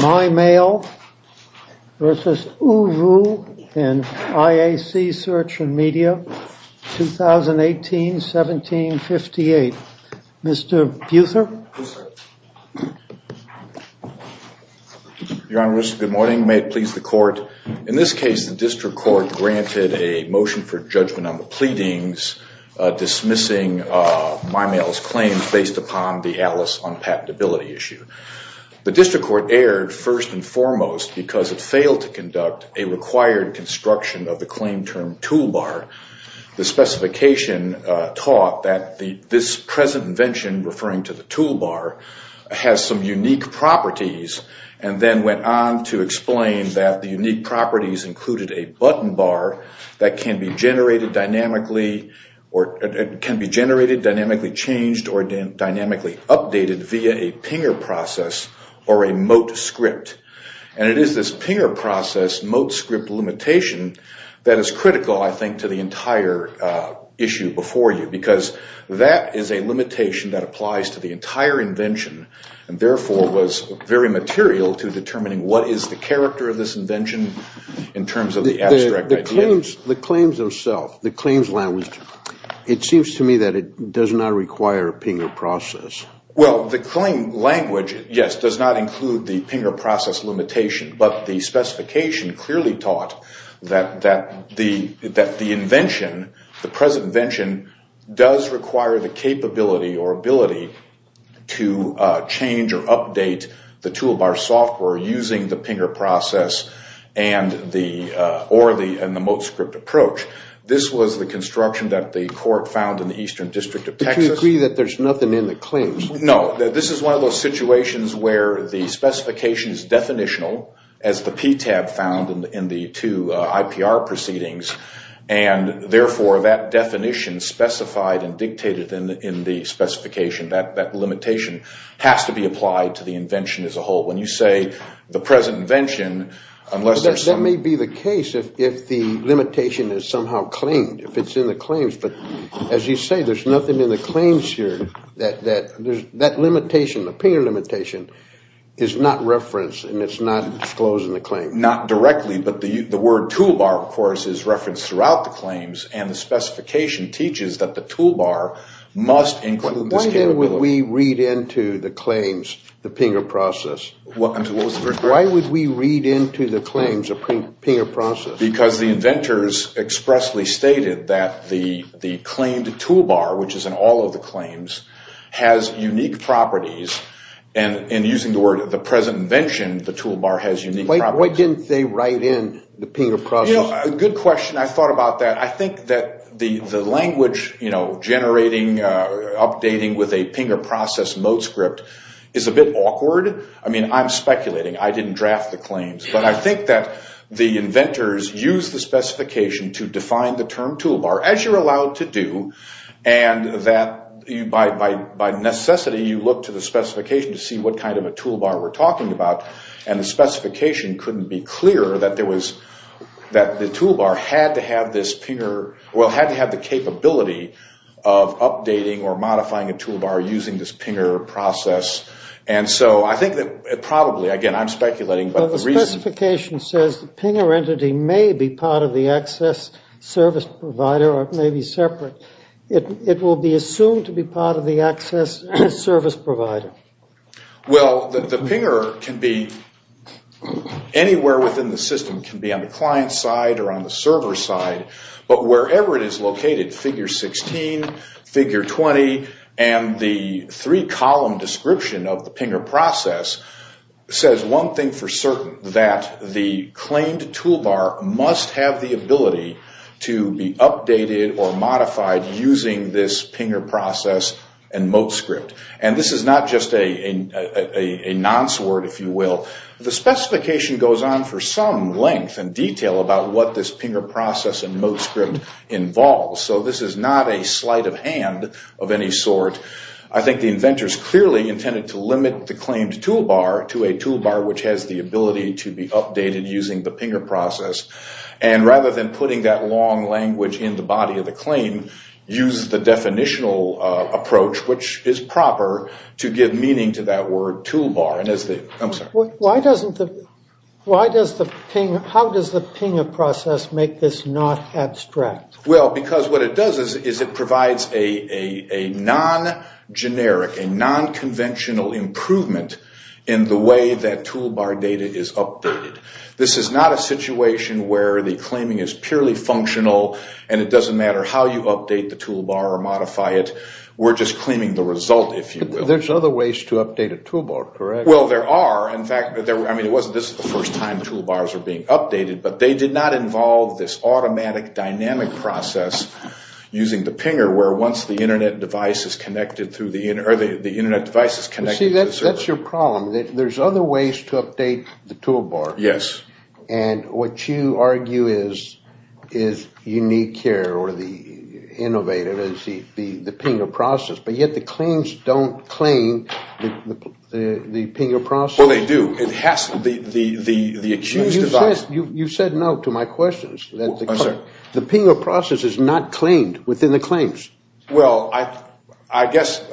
MyMail, Ltd. v. ooVoo, LLC Search and Media, 2018-17-58. Mr. Buther? Your Honor, good morning. May it please the Court. In this case, the District Court granted a motion for judgment on the pleadings dismissing MyMail's claims based upon the Alice on patentability issue. The District Court erred first and foremost because it failed to conduct a required construction of the claim term toolbar. The specification taught that this present invention, referring to the toolbar, has some unique properties, and then went on to explain that the unique properties included a button bar that can be generated, dynamically changed, or dynamically updated via a pinger process or a mote script. And it is this pinger process, mote script limitation, that is critical, I think, to the entire issue before you. Because that is a limitation that applies to the entire invention, and therefore was very material to determining what is the character of this invention in terms of the abstract idea. The claims themselves, the claims language, it seems to me that it does not require a pinger process. Well, the claim language, yes, does not include the pinger process limitation, but the specification clearly taught that the invention, the present invention, does require the capability or ability to change or update the toolbar software using the pinger process or the mote script approach. This was the construction that the Court found in the Eastern District of Texas. So you agree that there is nothing in the claims? No, this is one of those situations where the specification is definitional, as the PTAB found in the two IPR proceedings, and therefore that definition specified and dictated in the specification, that limitation, has to be applied to the invention as a whole. When you say the present invention, unless there is some... That may be the case if the limitation is somehow claimed, if it is in the claims, but as you say, there is nothing in the claims here that that limitation, the pinger limitation, is not referenced and is not disclosed in the claims. Not directly, but the word toolbar, of course, is referenced throughout the claims, and the specification teaches that the toolbar must include this capability. Why then would we read into the claims the pinger process? What was the question? Why would we read into the claims a pinger process? Because the inventors expressly stated that the claimed toolbar, which is in all of the claims, has unique properties, and using the word the present invention, the toolbar has unique properties. Why didn't they write in the pinger process? Good question. I thought about that. I think that the language, you know, generating, updating with a pinger process mode script is a bit awkward. I mean, I'm speculating. I didn't draft the claims, but I think that the inventors used the specification to define the term toolbar, as you're allowed to do, and that by necessity you look to the specification to see what kind of a toolbar we're talking about, and the specification couldn't be clearer that the toolbar had to have this pinger, well, had to have the capability of updating or modifying a toolbar using this pinger process, and so I think that probably, again, I'm speculating, but the reason... The specification says the pinger entity may be part of the access service provider, or it may be separate. It will be assumed to be part of the access service provider. Well, the pinger can be anywhere within the system. It can be on the client side or on the server side, but wherever it is located, figure 16, figure 20, and the three-column description of the pinger process says one thing for certain, that the claimed toolbar must have the ability to be updated or modified using this pinger process and mode script, and this is not just a nonce word, if you will. The specification goes on for some length and detail about what this pinger process and mode script involves, so this is not a sleight of hand of any sort. I think the inventors clearly intended to limit the claimed toolbar to a toolbar which has the ability to be updated using the pinger process, and rather than putting that long language in the body of the claim, use the definitional approach, which is proper, to give meaning to that word toolbar, and as the... I'm sorry. Why doesn't the... How does the pinger process make this not abstract? Well, because what it does is it provides a non-generic, a non-conventional improvement in the way that toolbar data is updated. This is not a situation where the claiming is purely functional, and it doesn't matter how you update the toolbar or modify it. We're just claiming the result, if you will. There's other ways to update a toolbar, correct? Well, there are. In fact, I mean, this is the first time toolbars are being updated, but they did not involve this automatic dynamic process using the pinger, where once the Internet device is connected through the... or the Internet device is connected to the server. See, that's your problem. There's other ways to update the toolbar. Yes. And what you argue is unique here, or the innovative, is the pinger process, but yet the claims don't claim the pinger process. Well, they do. It has to. The accused device... You said no to my questions. I'm sorry? The pinger process is not claimed within the claims. Well, I guess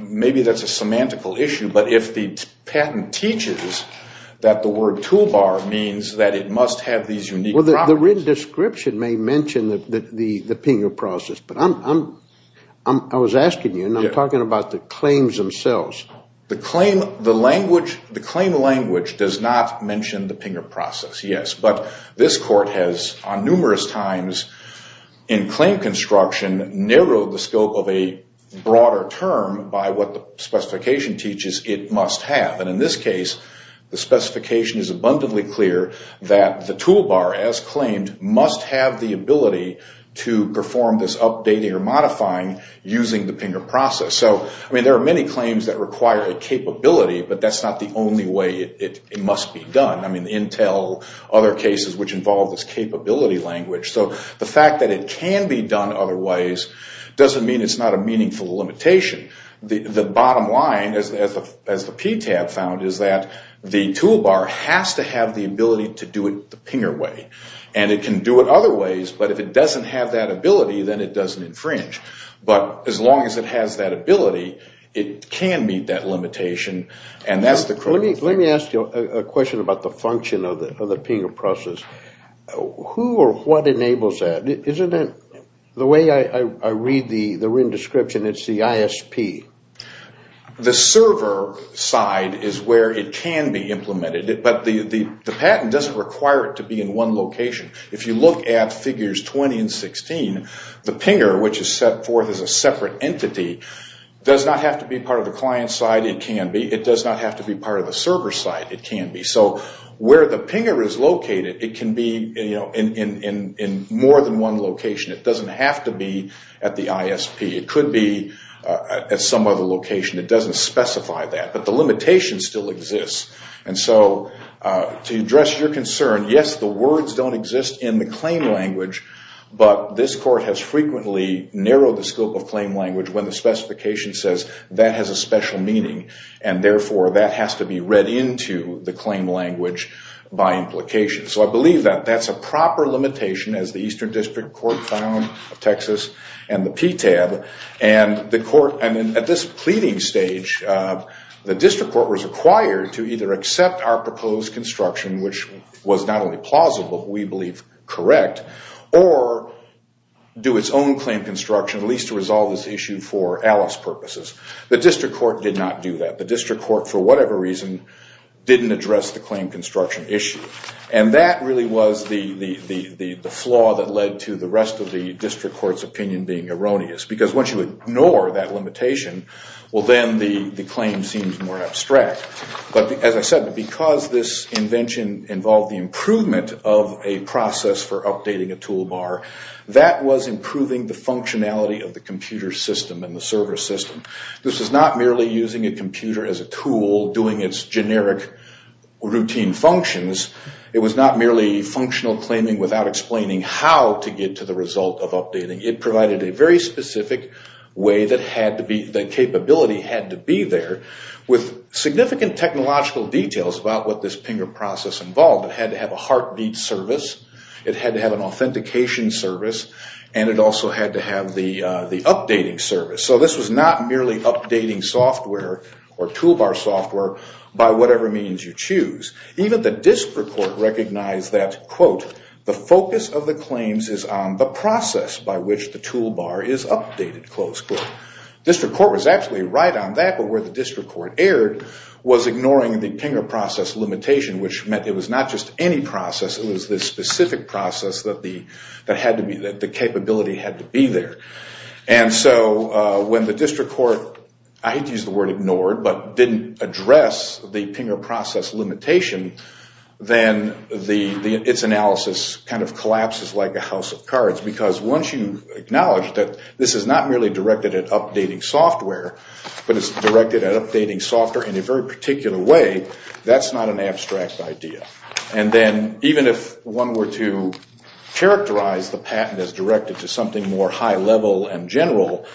maybe that's a semantical issue, but if the patent teaches that the word toolbar means that it must have these unique properties... Well, the written description may mention the pinger process, but I was asking you, and I'm talking about the claims themselves. The claim language does not mention the pinger process, yes, but this court has on numerous times in claim construction narrowed the scope of a broader term by what the specification teaches it must have. And in this case, the specification is abundantly clear that the toolbar, as claimed, must have the ability to perform this updating or modifying using the pinger process. So, I mean, there are many claims that require a capability, but that's not the only way it must be done. I mean, Intel, other cases which involve this capability language. So, the fact that it can be done other ways doesn't mean it's not a meaningful limitation. The bottom line, as the PTAB found, is that the toolbar has to have the ability to do it the pinger way, and it can do it other ways, but if it doesn't have that ability, then it doesn't infringe. But as long as it has that ability, it can meet that limitation, and that's the... Let me ask you a question about the function of the pinger process. Who or what enables that? The way I read the RIN description, it's the ISP. The server side is where it can be implemented, but the patent doesn't require it to be in one location. If you look at figures 20 and 16, the pinger, which is set forth as a separate entity, does not have to be part of the client side. It can be. It does not have to be part of the server side. It can be. So where the pinger is located, it can be in more than one location. It doesn't have to be at the ISP. It could be at some other location. It doesn't specify that, but the limitation still exists. And so to address your concern, yes, the words don't exist in the claim language, but this Court has frequently narrowed the scope of claim language when the specification says that has a special meaning, and therefore that has to be read into the claim language by implication. So I believe that that's a proper limitation, as the Eastern District Court found of Texas and the PTAB. And at this pleading stage, the District Court was required to either accept our proposed construction, which was not only plausible, but we believe correct, or do its own claim construction, at least to resolve this issue for ALICE purposes. The District Court did not do that. The District Court, for whatever reason, didn't address the claim construction issue. And that really was the flaw that led to the rest of the District Court's opinion being erroneous. Because once you ignore that limitation, well, then the claim seems more abstract. But as I said, because this invention involved the improvement of a process for updating a toolbar, that was improving the functionality of the computer system and the server system. This was not merely using a computer as a tool doing its generic routine functions. It was not merely functional claiming without explaining how to get to the result of updating. It provided a very specific way that capability had to be there, with significant technological details about what this PINGR process involved. It had to have a heartbeat service. It had to have an authentication service. And it also had to have the updating service. So this was not merely updating software or toolbar software by whatever means you choose. Even the District Court recognized that, quote, the focus of the claims is on the process by which the toolbar is updated, close quote. District Court was absolutely right on that, but where the District Court erred was ignoring the PINGR process limitation, which meant it was not just any process. It was this specific process that the capability had to be there. And so when the District Court, I hate to use the word ignored, but didn't address the PINGR process limitation, then its analysis kind of collapses like a house of cards. Because once you acknowledge that this is not merely directed at updating software, but it's directed at updating software in a very particular way, that's not an abstract idea. And then even if one were to characterize the patent as directed to something more high level and general,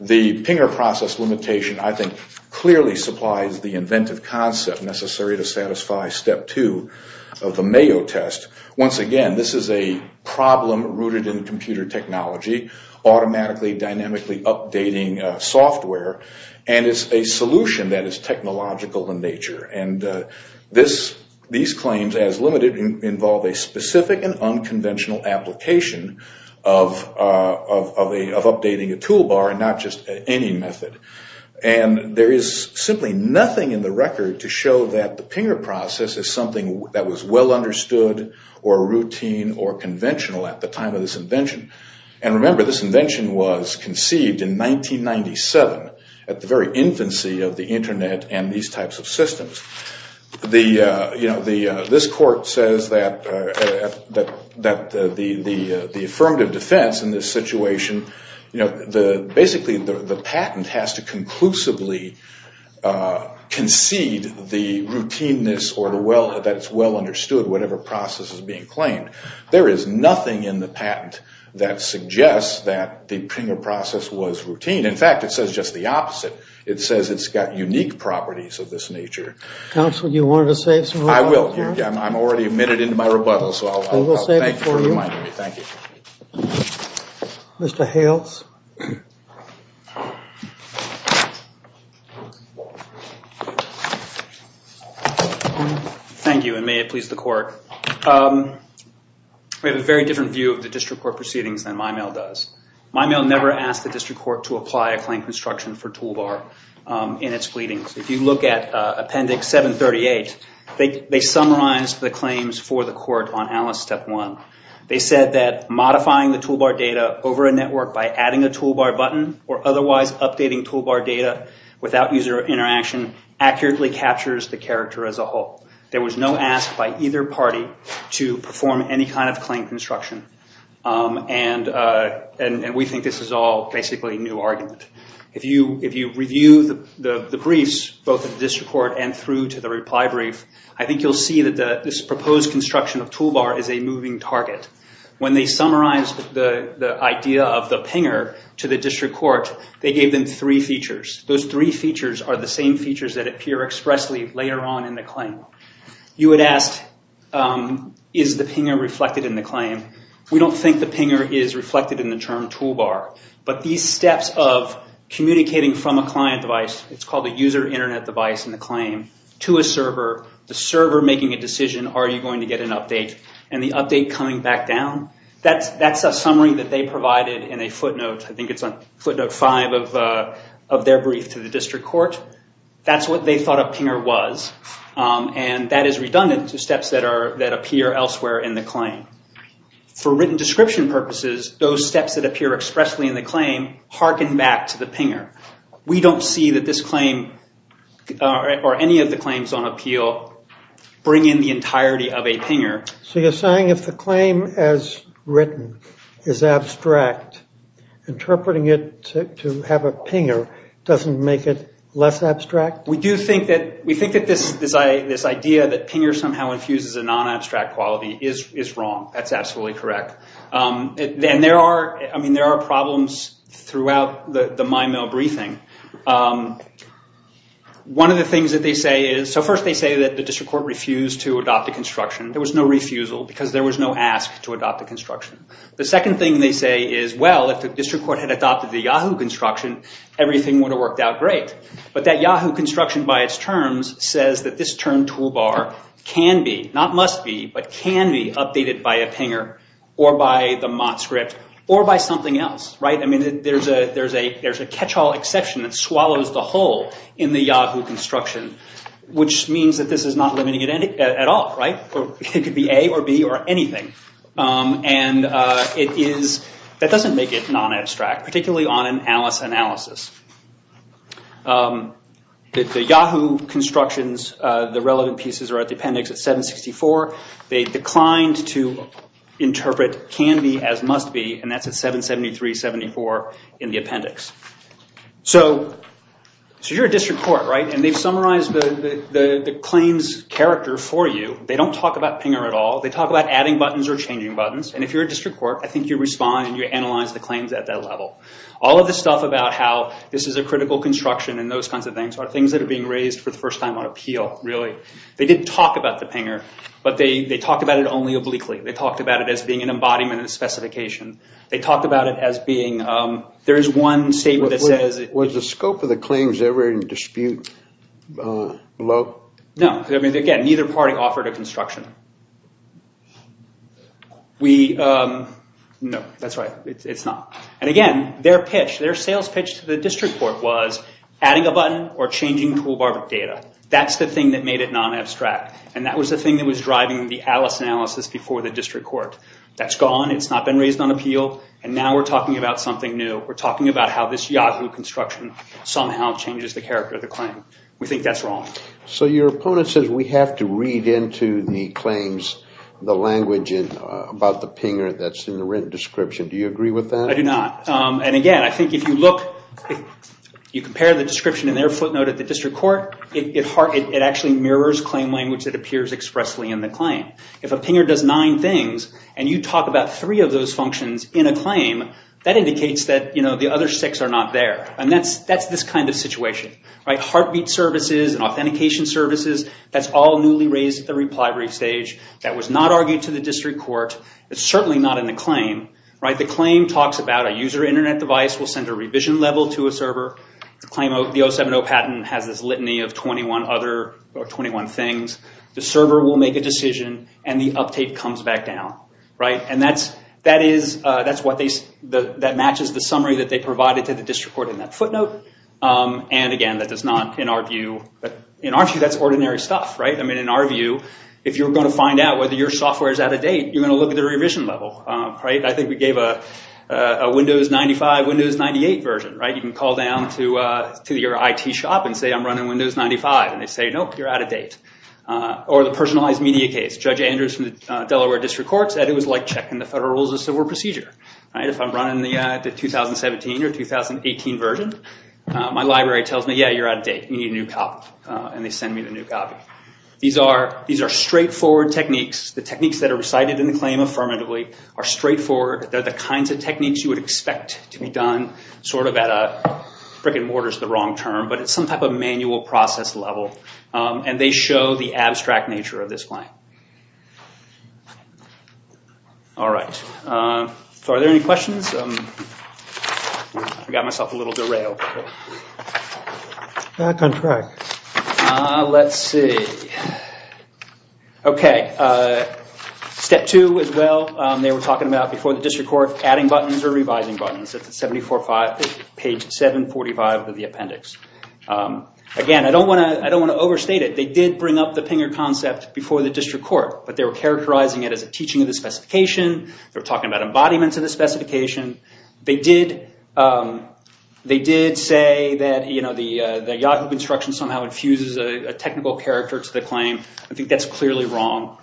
the PINGR process limitation, I think, clearly supplies the inventive concept necessary to satisfy step two of the Mayo test. Once again, this is a problem rooted in computer technology, automatically dynamically updating software. And it's a solution that is technological in nature. And these claims as limited involve a specific and unconventional application of updating a toolbar and not just any method. And there is simply nothing in the record to show that the PINGR process is something that was well understood or routine or conventional at the time of this invention. And remember, this invention was conceived in 1997 at the very infancy of the Internet and these types of systems. This court says that the affirmative defense in this situation, basically the patent has to conclusively concede the routineness or that it's well understood whatever process is being claimed. There is nothing in the patent that suggests that the PINGR process was routine. In fact, it says just the opposite. It says it's got unique properties of this nature. Counsel, do you want to say something? I will. I'm already a minute into my rebuttal, so I'll thank you for reminding me. Thank you. Mr. Hales. Thank you, and may it please the court. We have a very different view of the district court proceedings than my mail does. My mail never asked the district court to apply a claim construction for toolbar in its pleadings. If you look at Appendix 738, they summarized the claims for the court on Alice Step 1. They said that modifying the toolbar data over a network by adding a toolbar button or otherwise updating toolbar data without user interaction accurately captures the character as a whole. There was no ask by either party to perform any kind of claim construction. And we think this is all basically a new argument. If you review the briefs, both at the district court and through to the reply brief, I think you'll see that this proposed construction of toolbar is a moving target. When they summarized the idea of the PINGR to the district court, they gave them three features. Those three features are the same features that appear expressly later on in the claim. You would ask, is the PINGR reflected in the claim? We don't think the PINGR is reflected in the term toolbar. But these steps of communicating from a client device, it's called a user internet device in the claim, to a server, the server making a decision, are you going to get an update, and the update coming back down, that's a summary that they provided in a footnote. I think it's on footnote 5 of their brief to the district court. That's what they thought a PINGR was. And that is redundant to steps that appear elsewhere in the claim. For written description purposes, those steps that appear expressly in the claim harken back to the PINGR. We don't see that this claim or any of the claims on appeal bring in the entirety of a PINGR. So you're saying if the claim as written is abstract, interpreting it to have a PINGR doesn't make it less abstract? We do think that this idea that PINGR somehow infuses a non-abstract quality is wrong. That's absolutely correct. And there are problems throughout the MIMO briefing. One of the things that they say is, so first they say that the district court refused to adopt the construction. There was no refusal because there was no ask to adopt the construction. The second thing they say is, well, if the district court had adopted the YAHOO construction, everything would have worked out great. But that YAHOO construction by its terms says that this term toolbar can be, not must be, but can be updated by a PINGR or by the MOT script or by something else. There's a catch-all exception that swallows the whole in the YAHOO construction, which means that this is not limiting it at all. It could be A or B or anything. That doesn't make it non-abstract, particularly on an ALICE analysis. The YAHOO constructions, the relevant pieces are at the appendix at 764. They declined to interpret can be as must be, and that's at 773-74 in the appendix. So you're a district court, right? And they've summarized the claims character for you. They don't talk about PINGR at all. They talk about adding buttons or changing buttons. And if you're a district court, I think you respond and you analyze the claims at that level. All of the stuff about how this is a critical construction and those kinds of things are things that are being raised for the first time on appeal, really. They didn't talk about the PINGR, but they talked about it only obliquely. They talked about it as being an embodiment of the specification. They talked about it as being, there is one statement that says- Was the scope of the claims ever in dispute? No. Again, neither party offered a construction. No, that's right. It's not. And again, their pitch, their sales pitch to the district court was adding a button or changing toolbar data. That's the thing that made it non-abstract. And that was the thing that was driving the ALICE analysis before the district court. That's gone. It's not been raised on appeal. And now we're talking about something new. We're talking about how this Yahoo construction somehow changes the character of the claim. We think that's wrong. So your opponent says we have to read into the claims the language about the PINGR that's in the written description. Do you agree with that? I do not. And again, I think if you look, you compare the description in their footnote at the district court, it actually mirrors claim language that appears expressly in the claim. If a PINGR does nine things and you talk about three of those functions in a claim, that indicates that the other six are not there. And that's this kind of situation. Heartbeat services and authentication services, that's all newly raised at the reply brief stage. That was not argued to the district court. It's certainly not in the claim. The claim talks about a user Internet device will send a revision level to a server. The 070 patent has this litany of 21 other or 21 things. The server will make a decision and the update comes back down. And that matches the summary that they provided to the district court in that footnote. And again, in our view, that's ordinary stuff. In our view, if you're going to find out whether your software is out of date, you're going to look at the revision level. I think we gave a Windows 95, Windows 98 version. You can call down to your IT shop and say I'm running Windows 95. And they say, nope, you're out of date. Or the personalized media case. Judge Andrews from the Delaware District Court said it was like checking the Federal Rules of Civil Procedure. If I'm running the 2017 or 2018 version, my library tells me, yeah, you're out of date. You need a new copy. And they send me the new copy. These are straightforward techniques. The techniques that are recited in the claim affirmatively are straightforward. They're the kinds of techniques you would expect to be done sort of at a brick and mortar is the wrong term. But it's some type of manual process level. And they show the abstract nature of this claim. All right. So are there any questions? I got myself a little derailed. Back on track. Let's see. Okay. Step two as well. They were talking about before the district court, adding buttons or revising buttons. Page 745 of the appendix. Again, I don't want to overstate it. They did bring up the pinger concept before the district court. But they were characterizing it as a teaching of the specification. They were talking about embodiments of the specification. They did say that the Yahoo construction somehow infuses a technical character to the claim. I think that's clearly wrong.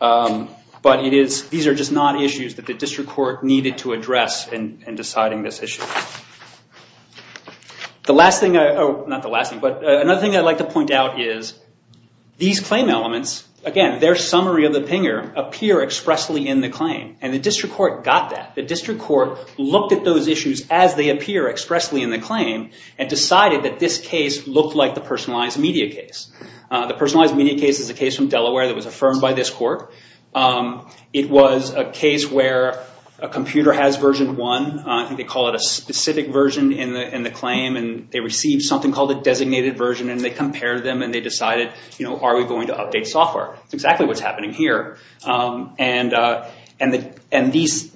But these are just not issues that the district court needed to address in deciding this issue. Another thing I'd like to point out is these claim elements, again, their summary of the pinger appear expressly in the claim. And the district court got that. The district court looked at those issues as they appear expressly in the claim and decided that this case looked like the personalized media case. The personalized media case is a case from Delaware that was affirmed by this court. It was a case where a computer has version 1. I think they call it a specific version in the claim. And they received something called a designated version. And they compared them. And they decided, are we going to update software? That's exactly what's happening here. And these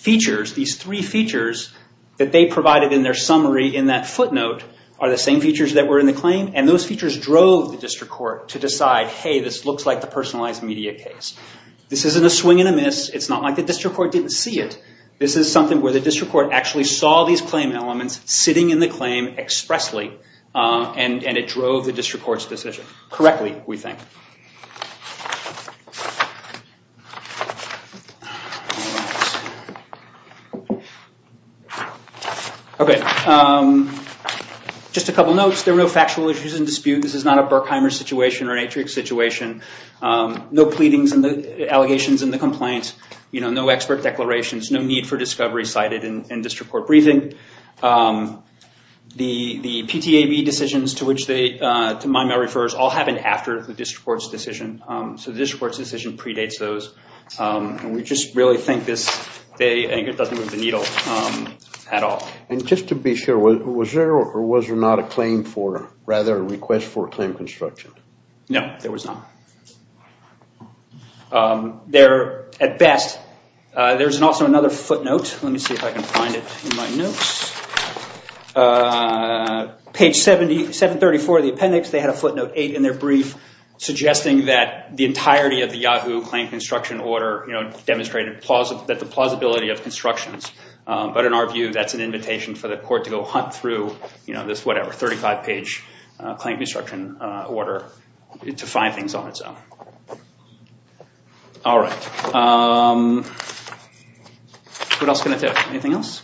three features that they provided in their summary in that footnote are the same features that were in the claim. And those features drove the district court to decide, hey, this looks like the personalized media case. This isn't a swing and a miss. It's not like the district court didn't see it. This is something where the district court actually saw these claim elements sitting in the claim expressly. And it drove the district court's decision correctly, we think. Just a couple notes. There were no factual issues in dispute. This is not a Berkheimer situation or an Atrix situation. No pleadings and allegations in the complaint. No expert declarations. No need for discovery cited in district court briefing. The PTAB decisions to which Maimel refers all happened after the district court's decision. So the district court's decision predates those. And we just really think this doesn't move the needle at all. And just to be sure, was there or was there not a claim for, rather a request for a claim construction? No, there was not. At best, there's also another footnote. Let me see if I can find it in my notes. Page 734 of the appendix, they had a footnote 8 in their brief suggesting that the entirety of the Yahoo claim construction order demonstrated that the plausibility of constructions. But in our view, that's an invitation for the court to go hunt through this, whatever, 35-page claim construction order to find things on its own. All right. What else can I tell you? Anything else?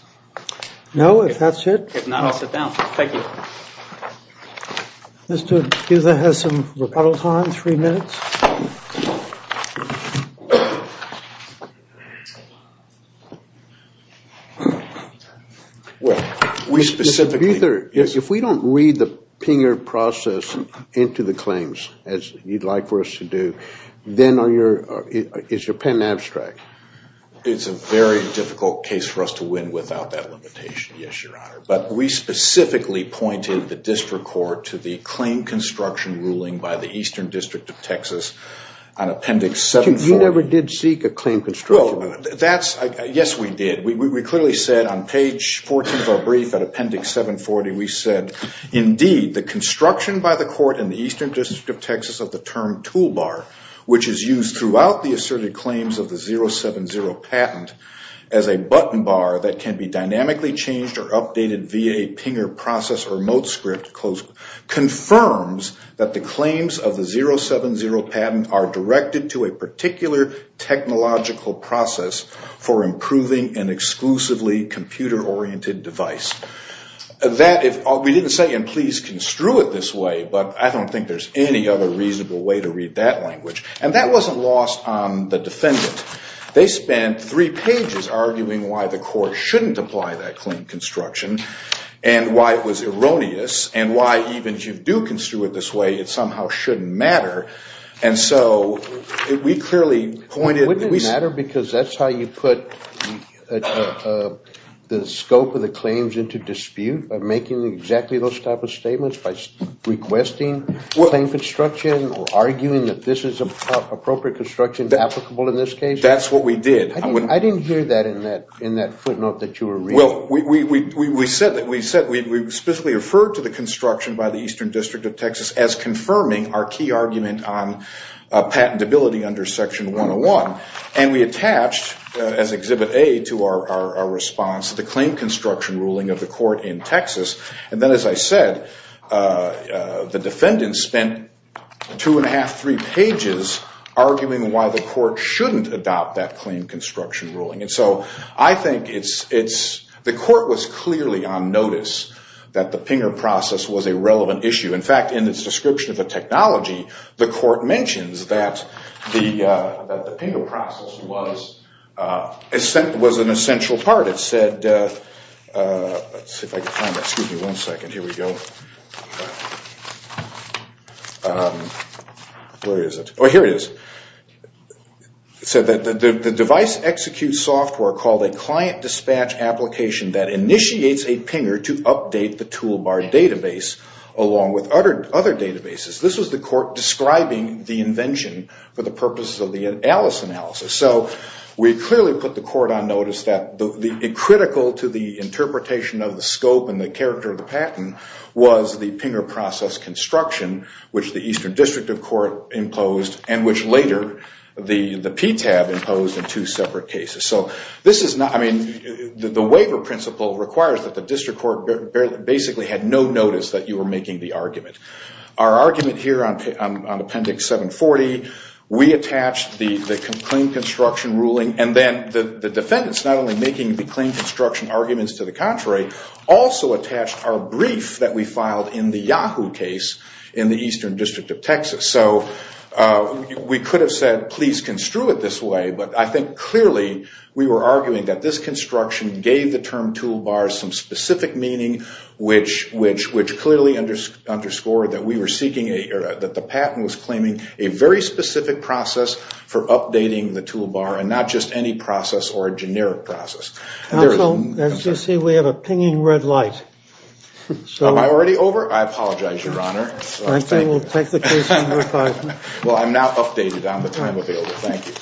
No, if that's it. If not, I'll sit down. Thank you. Mr. Guther has some rebuttal time, three minutes. Mr. Guther, if we don't read the Pinger process into the claims as you'd like for us to do, then is your pen abstract? It's a very difficult case for us to win without that limitation, yes, Your Honor. But we specifically pointed the district court to the claim construction ruling by the Eastern District of Texas on appendix 740. You never did seek a claim construction? Yes, we did. We clearly said on page 14 of our brief at appendix 740, we said, indeed, the construction by the court in the Eastern District of Texas of the term toolbar, which is used throughout the asserted claims of the 070 patent, as a button bar that can be dynamically changed or updated via a Pinger process remote script, confirms that the claims of the 070 patent are directed to a particular technological process for improving an exclusively computer-oriented device. We didn't say, and please construe it this way, but I don't think there's any other reasonable way to read that language. And that wasn't lost on the defendant. They spent three pages arguing why the court shouldn't apply that claim construction and why it was erroneous and why even if you do construe it this way, it somehow shouldn't matter. And so we clearly pointed... Wouldn't it matter because that's how you put the scope of the claims into dispute, by making exactly those type of statements, by requesting claim construction or arguing that this is appropriate construction applicable in this case? That's what we did. I didn't hear that in that footnote that you were reading. Well, we specifically referred to the construction by the Eastern District of Texas as confirming our key argument on patentability under Section 101. And we attached, as Exhibit A, to our response to the claim construction ruling of the court in Texas. And then, as I said, the defendant spent two and a half, three pages arguing why the court shouldn't adopt that claim construction ruling. And so I think it's... The court was clearly on notice that the PINGR process was a relevant issue. In fact, in its description of the technology, the court mentions that the PINGR process was an essential part. It said... Let's see if I can find that. Excuse me one second. Here we go. Where is it? Oh, here it is. It said that the device executes software called a client dispatch application that initiates a PINGR to update the toolbar database along with other databases. This was the court describing the invention for the purposes of the Alice analysis. So we clearly put the court on notice that critical to the interpretation of the scope and the character of the patent was the PINGR process construction, which the Eastern District of Court imposed and which later the PTAB imposed in two separate cases. So this is not... I mean, the waiver principle requires that the district court basically had no notice that you were making the argument. Our argument here on Appendix 740, we attached the claim construction ruling and then the defendants not only making the claim construction arguments to the contrary, also attached our brief that we filed in the Yahoo case in the Eastern District of Texas. So we could have said, please construe it this way, but I think clearly we were arguing that this construction gave the term toolbars some specific meaning, which clearly underscored that the patent was claiming a very specific process for updating the toolbar and not just any process or a generic process. As you see, we have a pinging red light. Am I already over? I apologize, Your Honor. I think we'll take the case to your department. Well, I'm now updated on the time available. Thank you. Thank you.